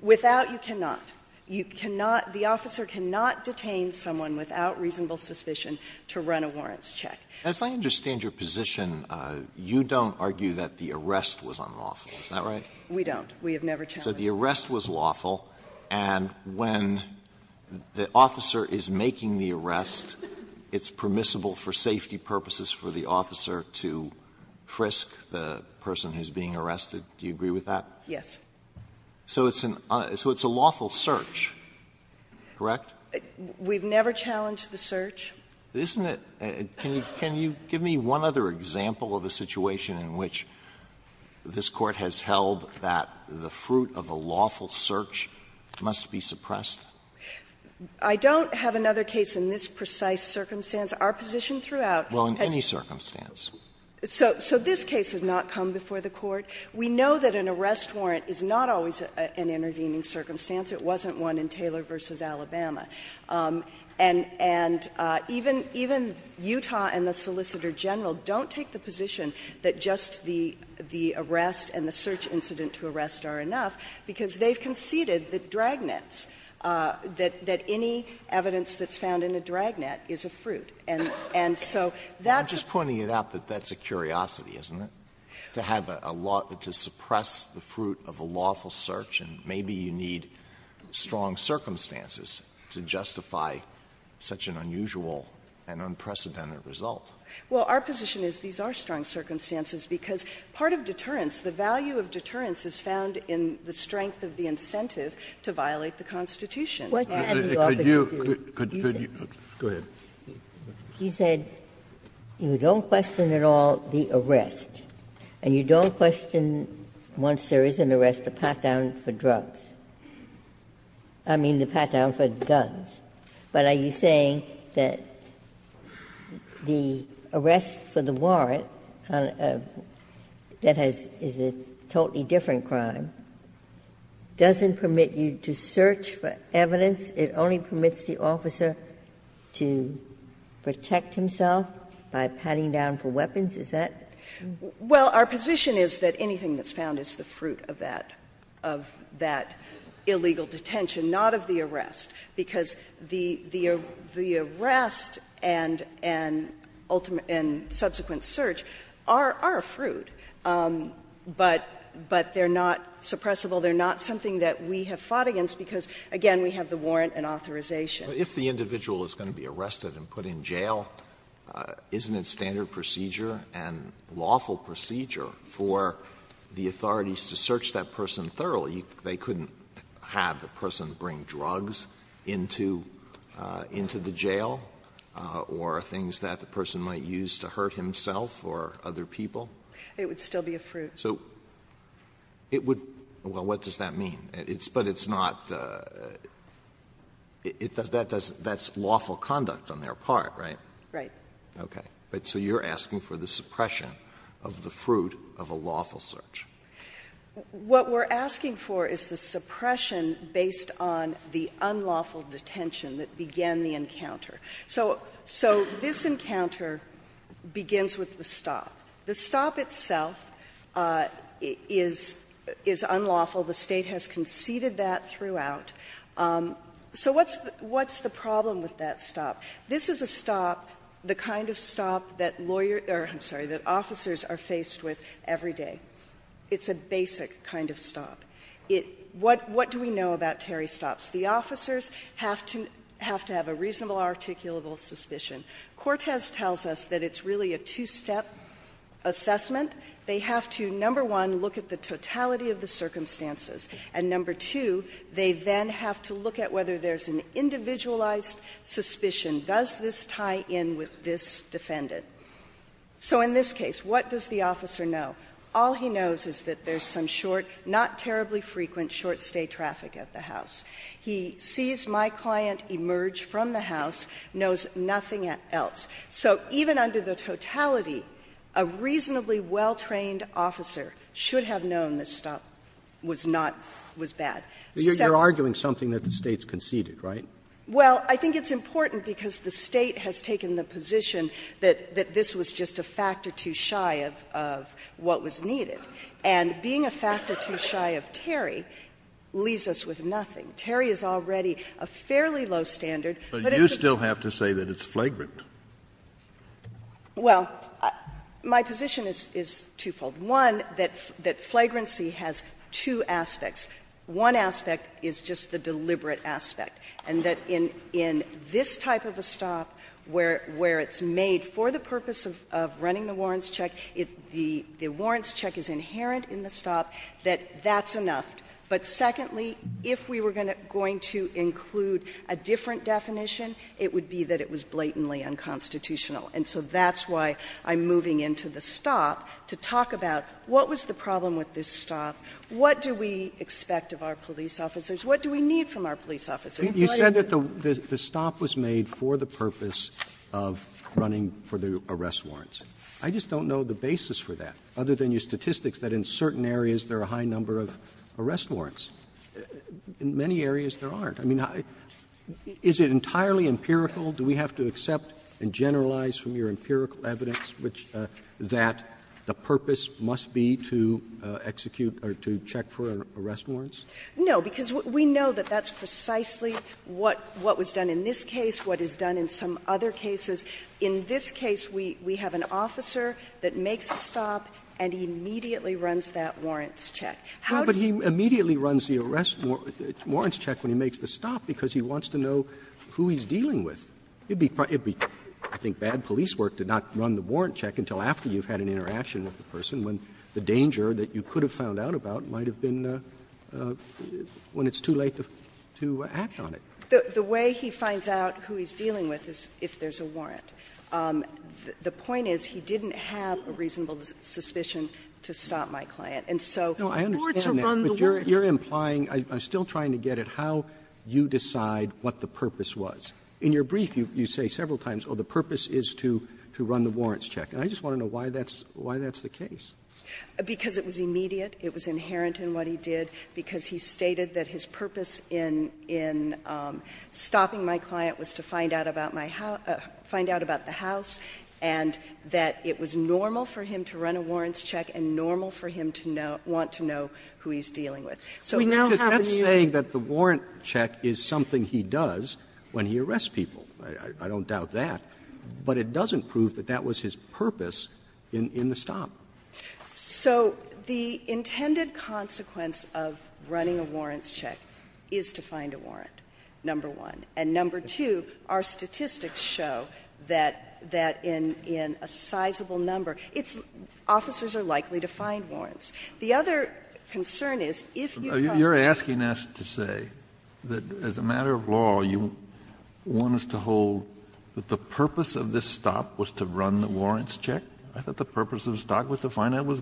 Without, you cannot. You cannot — the officer cannot detain someone without reasonable suspicion to run a warrants check. Alitoso, as I understand your position, you don't argue that the arrest was unlawful. Is that right? We don't. We have never challenged that. So the arrest was lawful, and when the officer is making the arrest, it's permissible for safety purposes for the officer to frisk the person who is being arrested. Do you agree with that? Yes. So it's an — so it's a lawful search, correct? We've never challenged the search. Isn't it — can you give me one other example of a situation in which this Court has held that the fruit of a lawful search must be suppressed? I don't have another case in this precise circumstance. Our position throughout has been that this case has not come before the Court. We know that an arrest warrant is not always an intervening circumstance. It wasn't one in Taylor v. Alabama. And even Utah and the Solicitor General don't take the position that just the arrest and the search incident to arrest are enough, because they've conceded that dragnets — that any evidence that's found in a dragnet is a fruit. And so that's a— Alito to suppress the fruit of a lawful search, and maybe you need strong circumstances to justify such an unusual and unprecedented result. Well, our position is these are strong circumstances, because part of deterrence, the value of deterrence is found in the strength of the incentive to violate the Constitution. And the opposite is true. Could you — could you — go ahead. Ginsburg He said, you don't question at all the arrest, and you don't question, once there is an arrest, the pat-down for drugs. I mean, the pat-down for guns. But are you saying that the arrest for the warrant, that has — is a totally different crime, doesn't permit you to search for evidence, it only permits the officer to protect himself by patting down for weapons? Is that— Well, our position is that anything that's found is the fruit of that — of that illegal detention, not of the arrest, because the — the arrest and — and ultimate — and subsequent search are — are a fruit, but — but they're not suppressible. They're not something that we have fought against, because, again, we have the warrant and authorization. But if the individual is going to be arrested and put in jail, isn't it standard procedure and lawful procedure for the authorities to search that person thoroughly? They couldn't have the person bring drugs into — into the jail, or things that the person might use to hurt himself or other people? It would still be a fruit. So it would — well, what does that mean? It's — but it's not — that does — that's lawful conduct on their part, right? Right. Okay. But so you're asking for the suppression of the fruit of a lawful search. What we're asking for is the suppression based on the unlawful detention that began the encounter. So — so this encounter begins with the stop. The stop itself is — is unlawful. The State has conceded that throughout. So what's — what's the problem with that stop? This is a stop, the kind of stop that lawyer — or, I'm sorry, that officers are faced with every day. It's a basic kind of stop. It — what — what do we know about Terry stops? The officers have to — have to have a reasonable articulable suspicion. Cortez tells us that it's really a two-step assessment. They have to, number one, look at the totality of the circumstances, and number two, they then have to look at whether there's an individualized suspicion. Does this tie in with this defendant? So in this case, what does the officer know? All he knows is that there's some short, not terribly frequent, short-stay traffic at the house. He sees my client emerge from the house, knows nothing else. So even under the totality, a reasonably well-trained officer should have known this stop was not — was bad. So — But you're arguing something that the State's conceded, right? Well, I think it's important because the State has taken the position that — that this was just a factor too shy of — of what was needed. And being a factor too shy of Terry leaves us with nothing. Terry is already a fairly low standard, but it's a— But you still have to say that it's flagrant. Well, my position is — is twofold. One, that — that flagrancy has two aspects. One aspect is just the deliberate aspect, and that in — in this type of a stop where — where it's made for the purpose of — of running the warrants check, the warrants check is inherent in the stop, that that's enough. But secondly, if we were going to include a different definition, it would be that it was blatantly unconstitutional. And so that's why I'm moving into the stop to talk about what was the problem with this stop, what do we expect of our police officers, what do we need from our police officers. You said that the stop was made for the purpose of running for the arrest warrants. I just don't know the basis for that, other than your statistics, that in certain areas there are a high number of arrest warrants. In many areas there aren't. I mean, is it entirely empirical? Do we have to accept and generalize from your empirical evidence which — that the purpose must be to execute or to check for arrest warrants? No, because we know that that's precisely what — what was done in this case, what is done in some other cases. In this case, we have an officer that makes a stop and he immediately runs that warrants check. How does he do that? Roberts No, but he immediately runs the arrest warrants check when he makes the stop, because he wants to know who he's dealing with. It would be, I think, bad police work to not run the warrant check until after you've had an interaction with the person when the danger that you could have found out about might have been when it's too late to act on it. The way he finds out who he's dealing with is if there's a warrant. The point is he didn't have a reasonable suspicion to stop my client. And so the court to run the warrants check No, I understand that, but you're implying — I'm still trying to get at how you decide what the purpose was. In your brief, you say several times, oh, the purpose is to run the warrants check. And I just want to know why that's the case. Because it was immediate, it was inherent in what he did, because he stated that his purpose in stopping my client was to find out about the house, and that it was normal for him to run a warrants check, and normal for him to want to know who he's dealing with. So we now have a new— Roberts, that's saying that the warrant check is something he does when he arrests people. I don't doubt that, but it doesn't prove that that was his purpose in the stop. So the intended consequence of running a warrants check is to find a warrant, number one. And number two, our statistics show that in a sizable number, it's — officers are likely to find warrants. The other concern is, if you find— You're asking us to say that as a matter of law, you want us to hold that the purpose of this stop was to run the warrants check? I thought the purpose of the stop was to find out what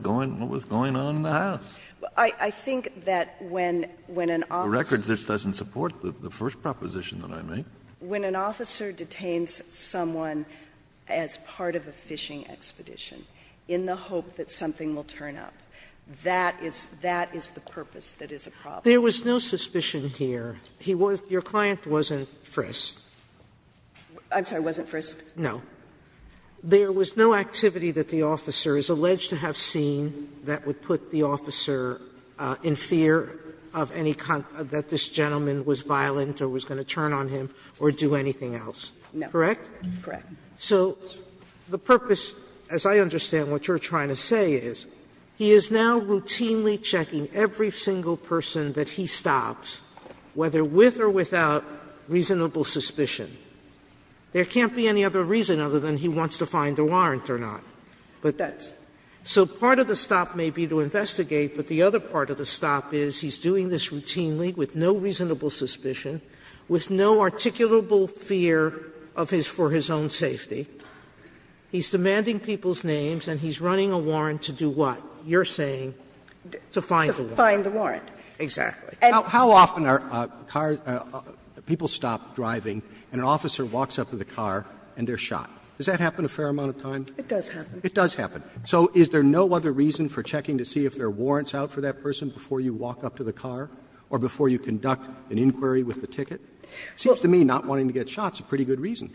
was going on in the house. I think that when an officer— The record just doesn't support the first proposition that I made. When an officer detains someone as part of a fishing expedition in the hope that something will turn up, that is — that is the purpose that is a problem. There was no suspicion here. He was — your client wasn't frisked. I'm sorry, wasn't frisked? No. There was no activity that the officer is alleged to have seen that would put the officer in fear of any — that this gentleman was violent or was going to turn on him or do anything else. Correct? Correct. So the purpose, as I understand what you're trying to say, is he is now routinely checking every single person that he stops, whether with or without reasonable suspicion. There can't be any other reason other than he wants to find a warrant or not. But that's — so part of the stop may be to investigate, but the other part of the stop is he's doing this routinely with no reasonable suspicion, with no articulable fear of his — for his own safety. He's demanding people's names, and he's running a warrant to do what, you're saying, to find the warrant? To find the warrant. Exactly. How often are cars — people stop driving and an officer walks up to the car and they're shot? Does that happen a fair amount of time? It does happen. It does happen. So is there no other reason for checking to see if there are warrants out for that person before you walk up to the car or before you conduct an inquiry with the ticket? It seems to me not wanting to get shot is a pretty good reason.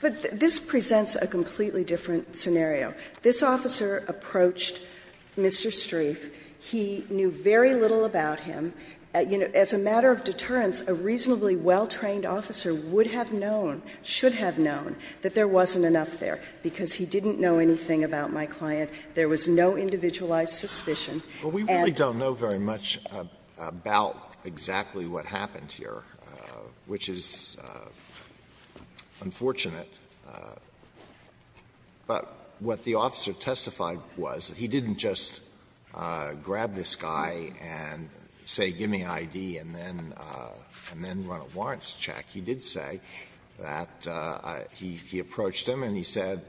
But this presents a completely different scenario. This officer approached Mr. Streiff. He knew very little about him. You know, as a matter of deterrence, a reasonably well-trained officer would have known, should have known, that there wasn't enough there, because he didn't know anything about my client. There was no individualized suspicion. And we really don't know very much about exactly what happened here, which is unfortunate. But what the officer testified was, he didn't just grab this guy and say give me I.D. and then run a warrants check. He did say that he approached him and he said,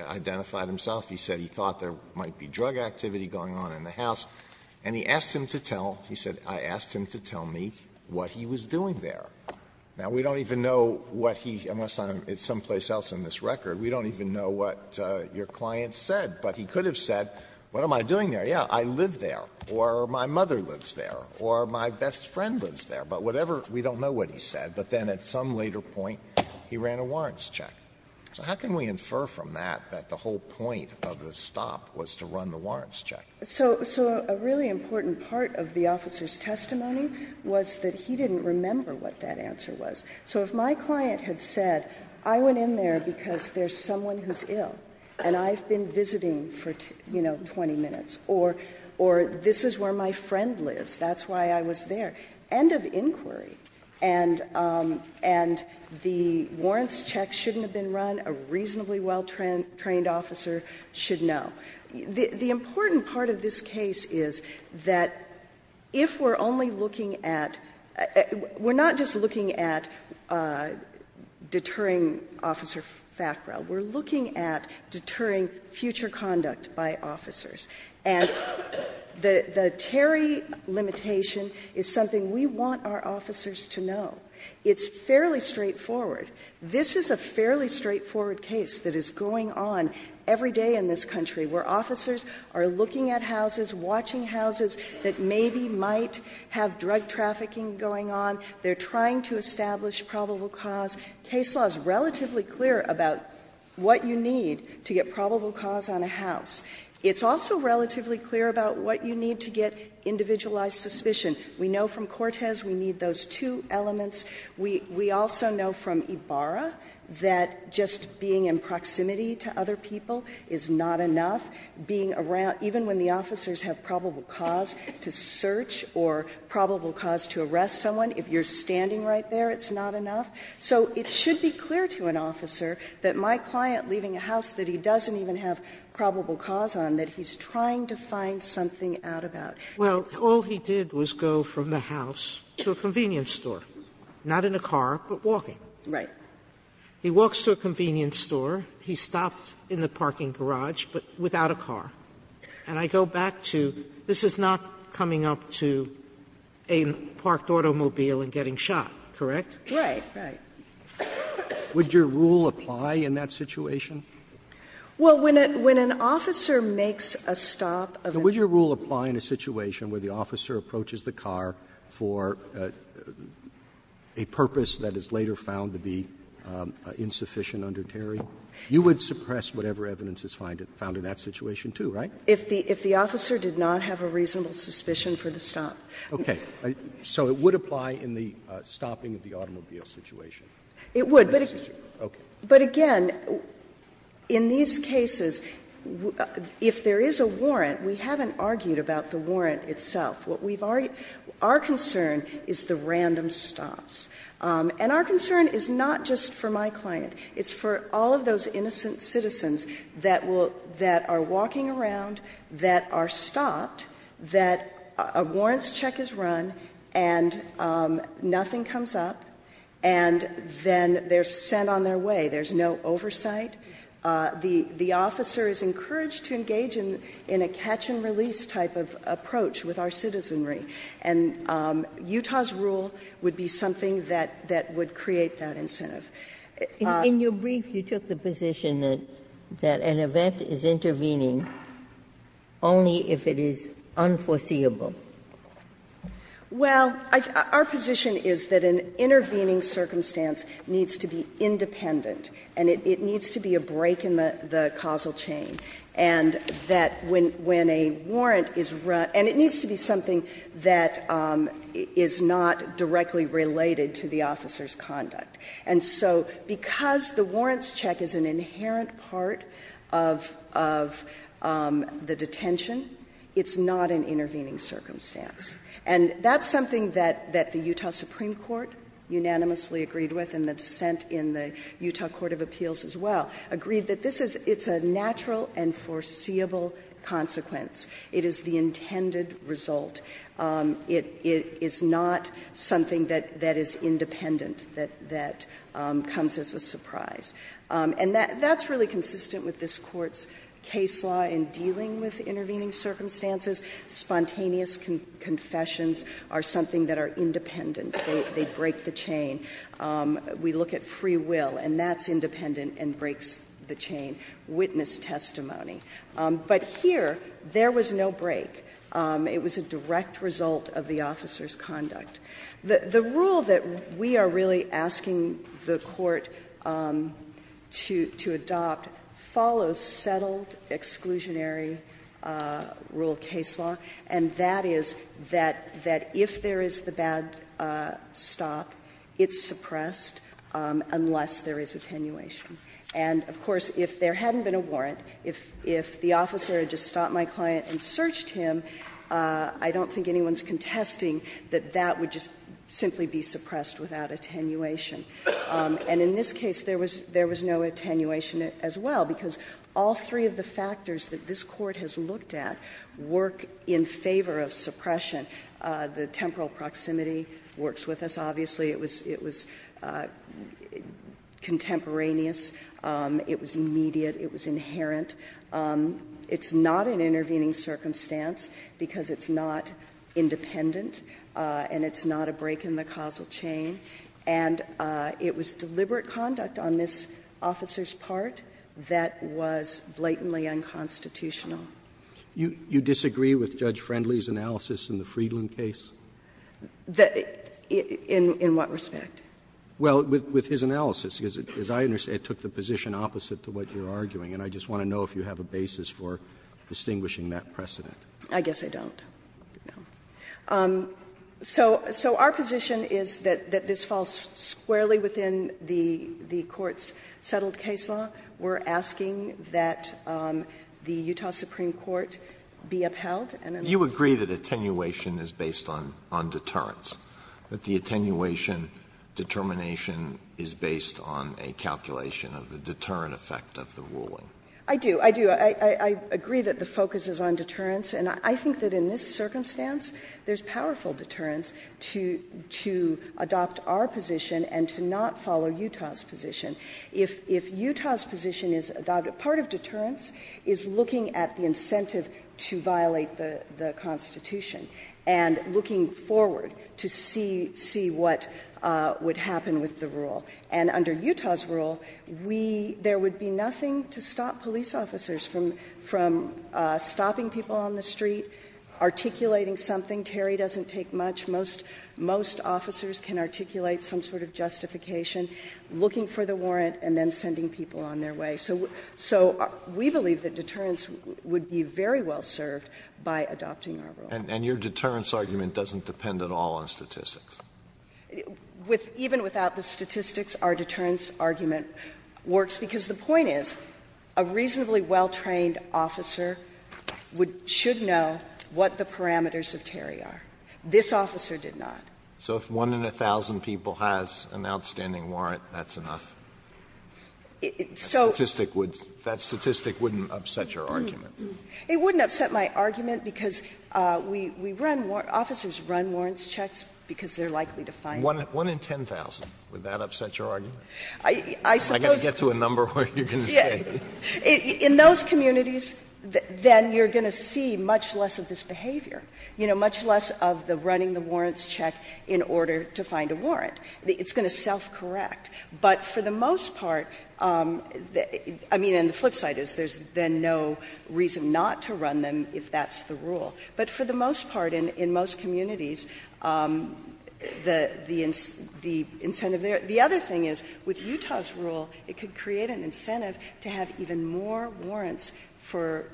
identified himself, he said he thought there might be drug activity going on in the house, and he asked him to tell, he said, I asked him to tell me what he was doing there. Now, we don't even know what he, unless I'm someplace else in this record, we don't even know what your client said. But he could have said, what am I doing there? Yes, I live there, or my mother lives there, or my best friend lives there. But whatever, we don't know what he said. But then at some later point, he ran a warrants check. So how can we infer from that that the whole point of the stop was to run the warrants check? So a really important part of the officer's testimony was that he didn't remember what that answer was. So if my client had said, I went in there because there's someone who's ill and I've been visiting for, you know, 20 minutes, or this is where my friend lives, that's why I was there, end of inquiry. And the warrants check shouldn't have been run. A reasonably well-trained officer should know. The important part of this case is that if we're only looking at we're not just looking at deterring Officer Fackrell. We're looking at deterring future conduct by officers. And the Terry limitation is something we want our officers to know. It's fairly straightforward. This is a fairly straightforward case that is going on every day in this country, where officers are looking at houses, watching houses that maybe might have drug trafficking going on. They're trying to establish probable cause. Case law is relatively clear about what you need to get probable cause on a house. It's also relatively clear about what you need to get individualized suspicion. We know from Cortez we need those two elements. We also know from Ibarra that just being in proximity to other people is not enough. Being around, even when the officers have probable cause to search or probable cause to arrest someone, if you're standing right there, it's not enough. So it should be clear to an officer that my client leaving a house that he doesn't even have probable cause on, that he's trying to find something out about. Sotomayor, Well, all he did was go from the house to a convenience store, not in a car, but walking. He walks to a convenience store. He stopped in the parking garage, but without a car. And I go back to, this is not coming up to a parked automobile and getting shot, correct? Right. Right. Would your rule apply in that situation? Well, when an officer makes a stop of an officer's car. Would your rule apply in a situation where the officer approaches the car for a purpose that is later found to be insufficient under Terry? You would suppress whatever evidence is found in that situation, too, right? If the officer did not have a reasonable suspicion for the stop. Okay. So it would apply in the stopping of the automobile situation? It would. But again, in these cases, if there is a warrant, we haven't argued about the warrant itself. What we've argued – our concern is the random stops. And our concern is not just for my client. It's for all of those innocent citizens that are walking around, that are stopped, that a warrants check is run, and nothing comes up, and then they're sent on their way. There's no oversight. The officer is encouraged to engage in a catch-and-release type of approach with our citizenry. And Utah's rule would be something that would create that incentive. In your brief, you took the position that an event is intervening only if it is unforeseeable. Well, our position is that an intervening circumstance needs to be independent, and it needs to be a break in the causal chain, and that when a warrant is run – and it needs to be something that is not directly related to the officer's conduct. And so because the warrants check is an inherent part of the detention, it's not an intervening circumstance. And that's something that the Utah Supreme Court unanimously agreed with, and the dissent in the Utah Court of Appeals as well, agreed that this is – it's a natural and foreseeable consequence. It is the intended result. It is not something that is independent, that comes as a surprise. And that's really consistent with this Court's case law in dealing with intervening circumstances. Spontaneous confessions are something that are independent. They break the chain. We look at free will, and that's independent and breaks the chain. Witness testimony. But here, there was no break. It was a direct result of the officer's conduct. The rule that we are really asking the Court to adopt follows settled exclusionary rule case law, and that is that if there is the bad stop, it's suppressed unless there is attenuation. And of course, if there hadn't been a warrant, if the officer had just stopped my client and searched him, I don't think anyone is contesting that that would just simply be suppressed without attenuation. And in this case, there was no attenuation as well, because all three of the factors that this Court has looked at work in favor of suppression. The temporal proximity works with us, obviously. It was contemporaneous. It was immediate. It was inherent. It's not an intervening circumstance because it's not independent and it's not a break in the causal chain. And it was deliberate conduct on this officer's part that was blatantly unconstitutional. Roberts. Roberts. You disagree with Judge Friendly's analysis in the Friedland case? In what respect? Well, with his analysis, because as I understand, it took the position opposite to what you are arguing. And I just want to know if you have a basis for distinguishing that precedent. I guess I don't. So our position is that this falls squarely within the Court's settled case law. We are asking that the Utah Supreme Court be upheld. You agree that attenuation is based on deterrence, that the attenuation determination is based on a calculation of the deterrent effect of the ruling? I do. I do. I agree that the focus is on deterrence. And I think that in this circumstance, there's powerful deterrence to adopt our position and to not follow Utah's position. If Utah's position is adopted, part of deterrence is looking at the incentive of the rule, and under Utah's rule, there would be nothing to stop police officers from stopping people on the street, articulating something, Terry doesn't take much, most officers can articulate some sort of justification, looking for the warrant and then sending people on their way. So we believe that deterrence would be very well served by adopting our rule. And your deterrence argument doesn't depend at all on statistics? Even without the statistics, our deterrence argument works, because the point is a reasonably well-trained officer would or should know what the parameters of Terry are. This officer did not. So if one in a thousand people has an outstanding warrant, that's enough? So that statistic wouldn't upset your argument? It wouldn't upset my argument, because we run more – officers run warrants checks because they're likely to find them. One in 10,000, would that upset your argument? I suppose – I've got to get to a number of what you're going to say. In those communities, then you're going to see much less of this behavior, you know, much less of the running the warrants check in order to find a warrant. It's going to self-correct. But for the most part, I mean, and the flip side is there's then no reason not to run them if that's the rule. But for the most part, in most communities, the incentive there – the other thing is, with Utah's rule, it could create an incentive to have even more warrants for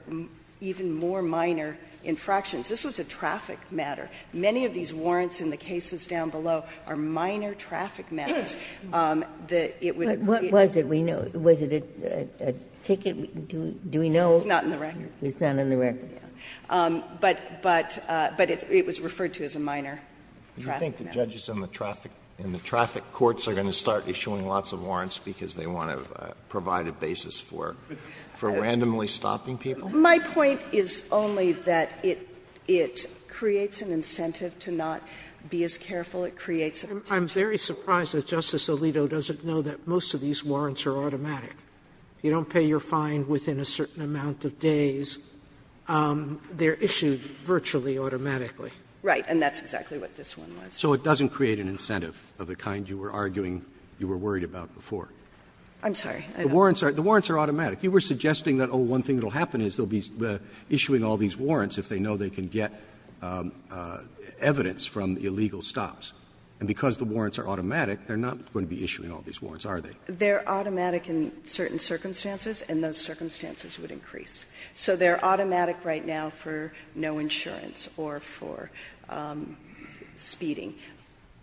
even more minor infractions. This was a traffic matter. Many of these warrants in the cases down below are minor traffic matters. That it would be – But what was it? Was it a ticket? It's not in the record. It's not in the record. But it was referred to as a minor traffic matter. Do you think the judges in the traffic courts are going to start issuing lots of warrants because they want to provide a basis for randomly stopping people? My point is only that it creates an incentive to not be as careful. It creates an incentive. I'm very surprised that Justice Alito doesn't know that most of these warrants are automatic. If you don't pay your fine within a certain amount of days, they're issued virtually, automatically. Right. And that's exactly what this one was. So it doesn't create an incentive of the kind you were arguing you were worried I'm sorry. I don't know. The warrants are automatic. You were suggesting that, oh, one thing that will happen is they'll be issuing all these warrants if they know they can get evidence from illegal stops. And because the warrants are automatic, they're not going to be issuing all these warrants, are they? They're automatic in certain circumstances, and those circumstances would increase. So they're automatic right now for no insurance or for speeding.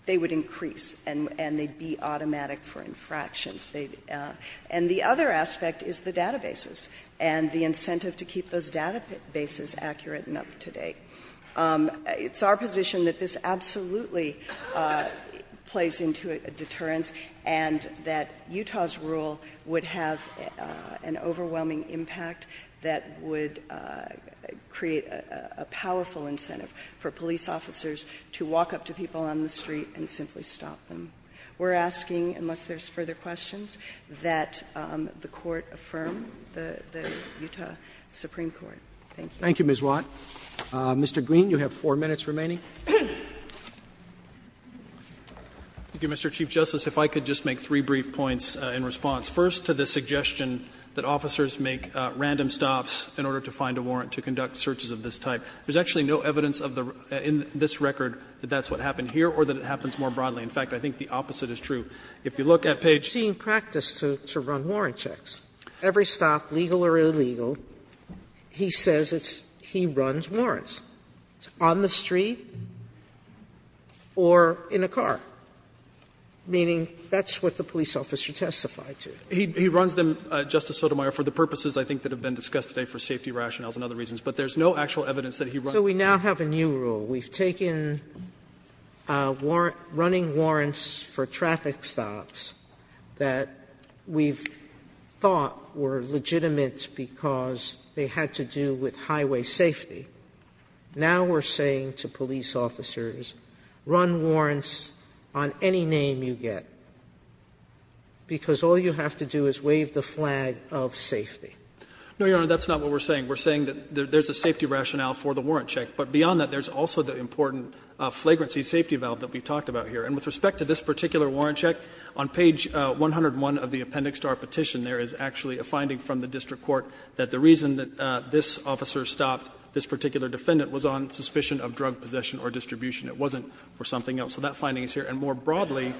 They would increase, and they'd be automatic for infractions. And the other aspect is the databases and the incentive to keep those databases accurate and up to date. It's our position that this absolutely plays into a deterrence and that Utah's rule would have an overwhelming impact that would create a powerful incentive for police officers to walk up to people on the street and simply stop them. We're asking, unless there's further questions, that the court affirm the Utah Supreme Court. Thank you. Thank you, Ms. Watt. Mr. Green, you have four minutes remaining. Green, you have four minutes remaining. Thank you, Mr. Chief Justice. If I could just make three brief points in response. First, to the suggestion that officers make random stops in order to find a warrant to conduct searches of this type. There's actually no evidence of the record, in this record, that that's what happened here or that it happens more broadly. In fact, I think the opposite is true. If you look at page 18. Sotomayor, I'm just saying practice to run warrant checks. Every stop, legal or illegal, he says it's he runs warrants. It's on the street or in a car, meaning that's what the police officer testified to. He runs them, Justice Sotomayor, for the purposes, I think, that have been discussed today for safety rationales and other reasons, but there's no actual evidence that he runs them. So we now have a new rule. We've taken running warrants for traffic stops that we've thought were legitimate because they had to do with highway safety. Now we're saying to police officers, run warrants on any name you get, because all you have to do is wave the flag of safety. No, Your Honor, that's not what we're saying. We're saying that there's a safety rationale for the warrant check, but beyond that, there's also the important flagrancy safety valve that we've talked about here. And with respect to this particular warrant check, on page 101 of the appendix to our petition, there is actually a finding from the district court that the reason that this officer stopped this particular defendant was on suspicion of drug possession or distribution. It wasn't for something else. So that finding is here. And more broadly,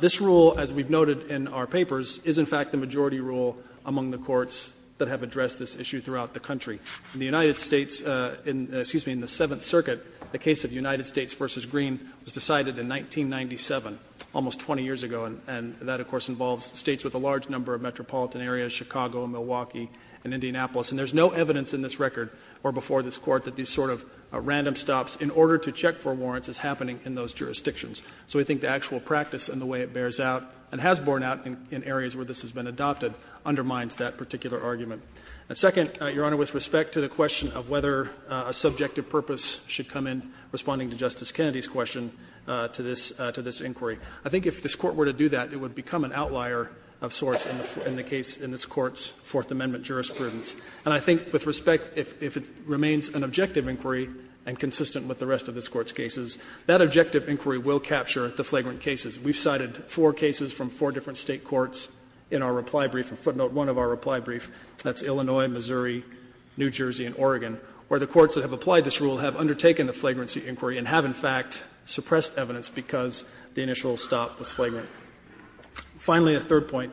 this rule, as we've noted in our papers, is in fact the majority rule among the courts that have addressed this issue throughout the country. In the United States, excuse me, in the Seventh Circuit, the case of United States v. Green was decided in 1997, almost 20 years ago, and that, of course, involves states with a large number of metropolitan areas, Chicago and Milwaukee and Indianapolis. And there's no evidence in this record or before this Court that these sort of random stops in order to check for warrants is happening in those jurisdictions. So we think the actual practice and the way it bears out and has borne out in areas where this has been adopted undermines that particular argument. And second, Your Honor, with respect to the question of whether a subjective purpose should come in responding to Justice Kennedy's question to this inquiry, I think if this Court were to do that, it would become an outlier of sorts in the case, in this Court's Fourth Amendment jurisprudence. And I think with respect, if it remains an objective inquiry and consistent with the rest of this Court's cases, that objective inquiry will capture the flagrant cases. We've cited four cases from four different State courts in our reply brief, a footnote one of our reply brief, that's Illinois, Missouri, New Jersey, and Oregon, where the courts that have applied this rule have undertaken the flagrancy inquiry and have, in fact, suppressed evidence because the initial stop was flagrant. Finally, a third point,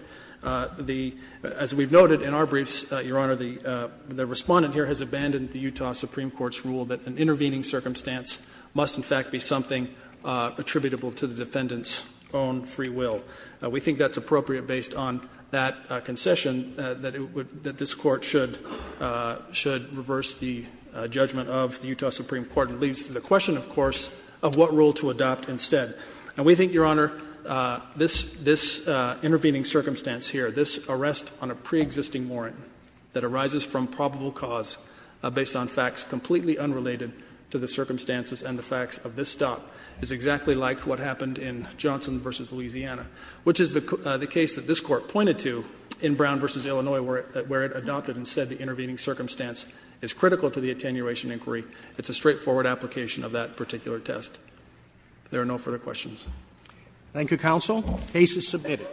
the — as we've noted in our briefs, Your Honor, the Respondent here has abandoned the Utah Supreme Court's rule that an intervening circumstance must, in fact, be something attributable to the defendant's own free will. We think that's appropriate based on that concession, that it would — that this Court should reverse the judgment of the Utah Supreme Court. And it leads to the question, of course, of what rule to adopt instead. And we think, Your Honor, this intervening circumstance here, this arrest on a pre-existing warrant that arises from probable cause based on facts completely unrelated to the circumstances and the facts of this stop, is exactly like what happened in Johnson v. Louisiana, which is the case that this Court pointed to in Brown v. Illinois, where it adopted and said the intervening circumstance is critical to the attenuation inquiry. It's a straightforward application of that particular test. If there are no further questions. Roberts. Thank you, counsel. The case is submitted.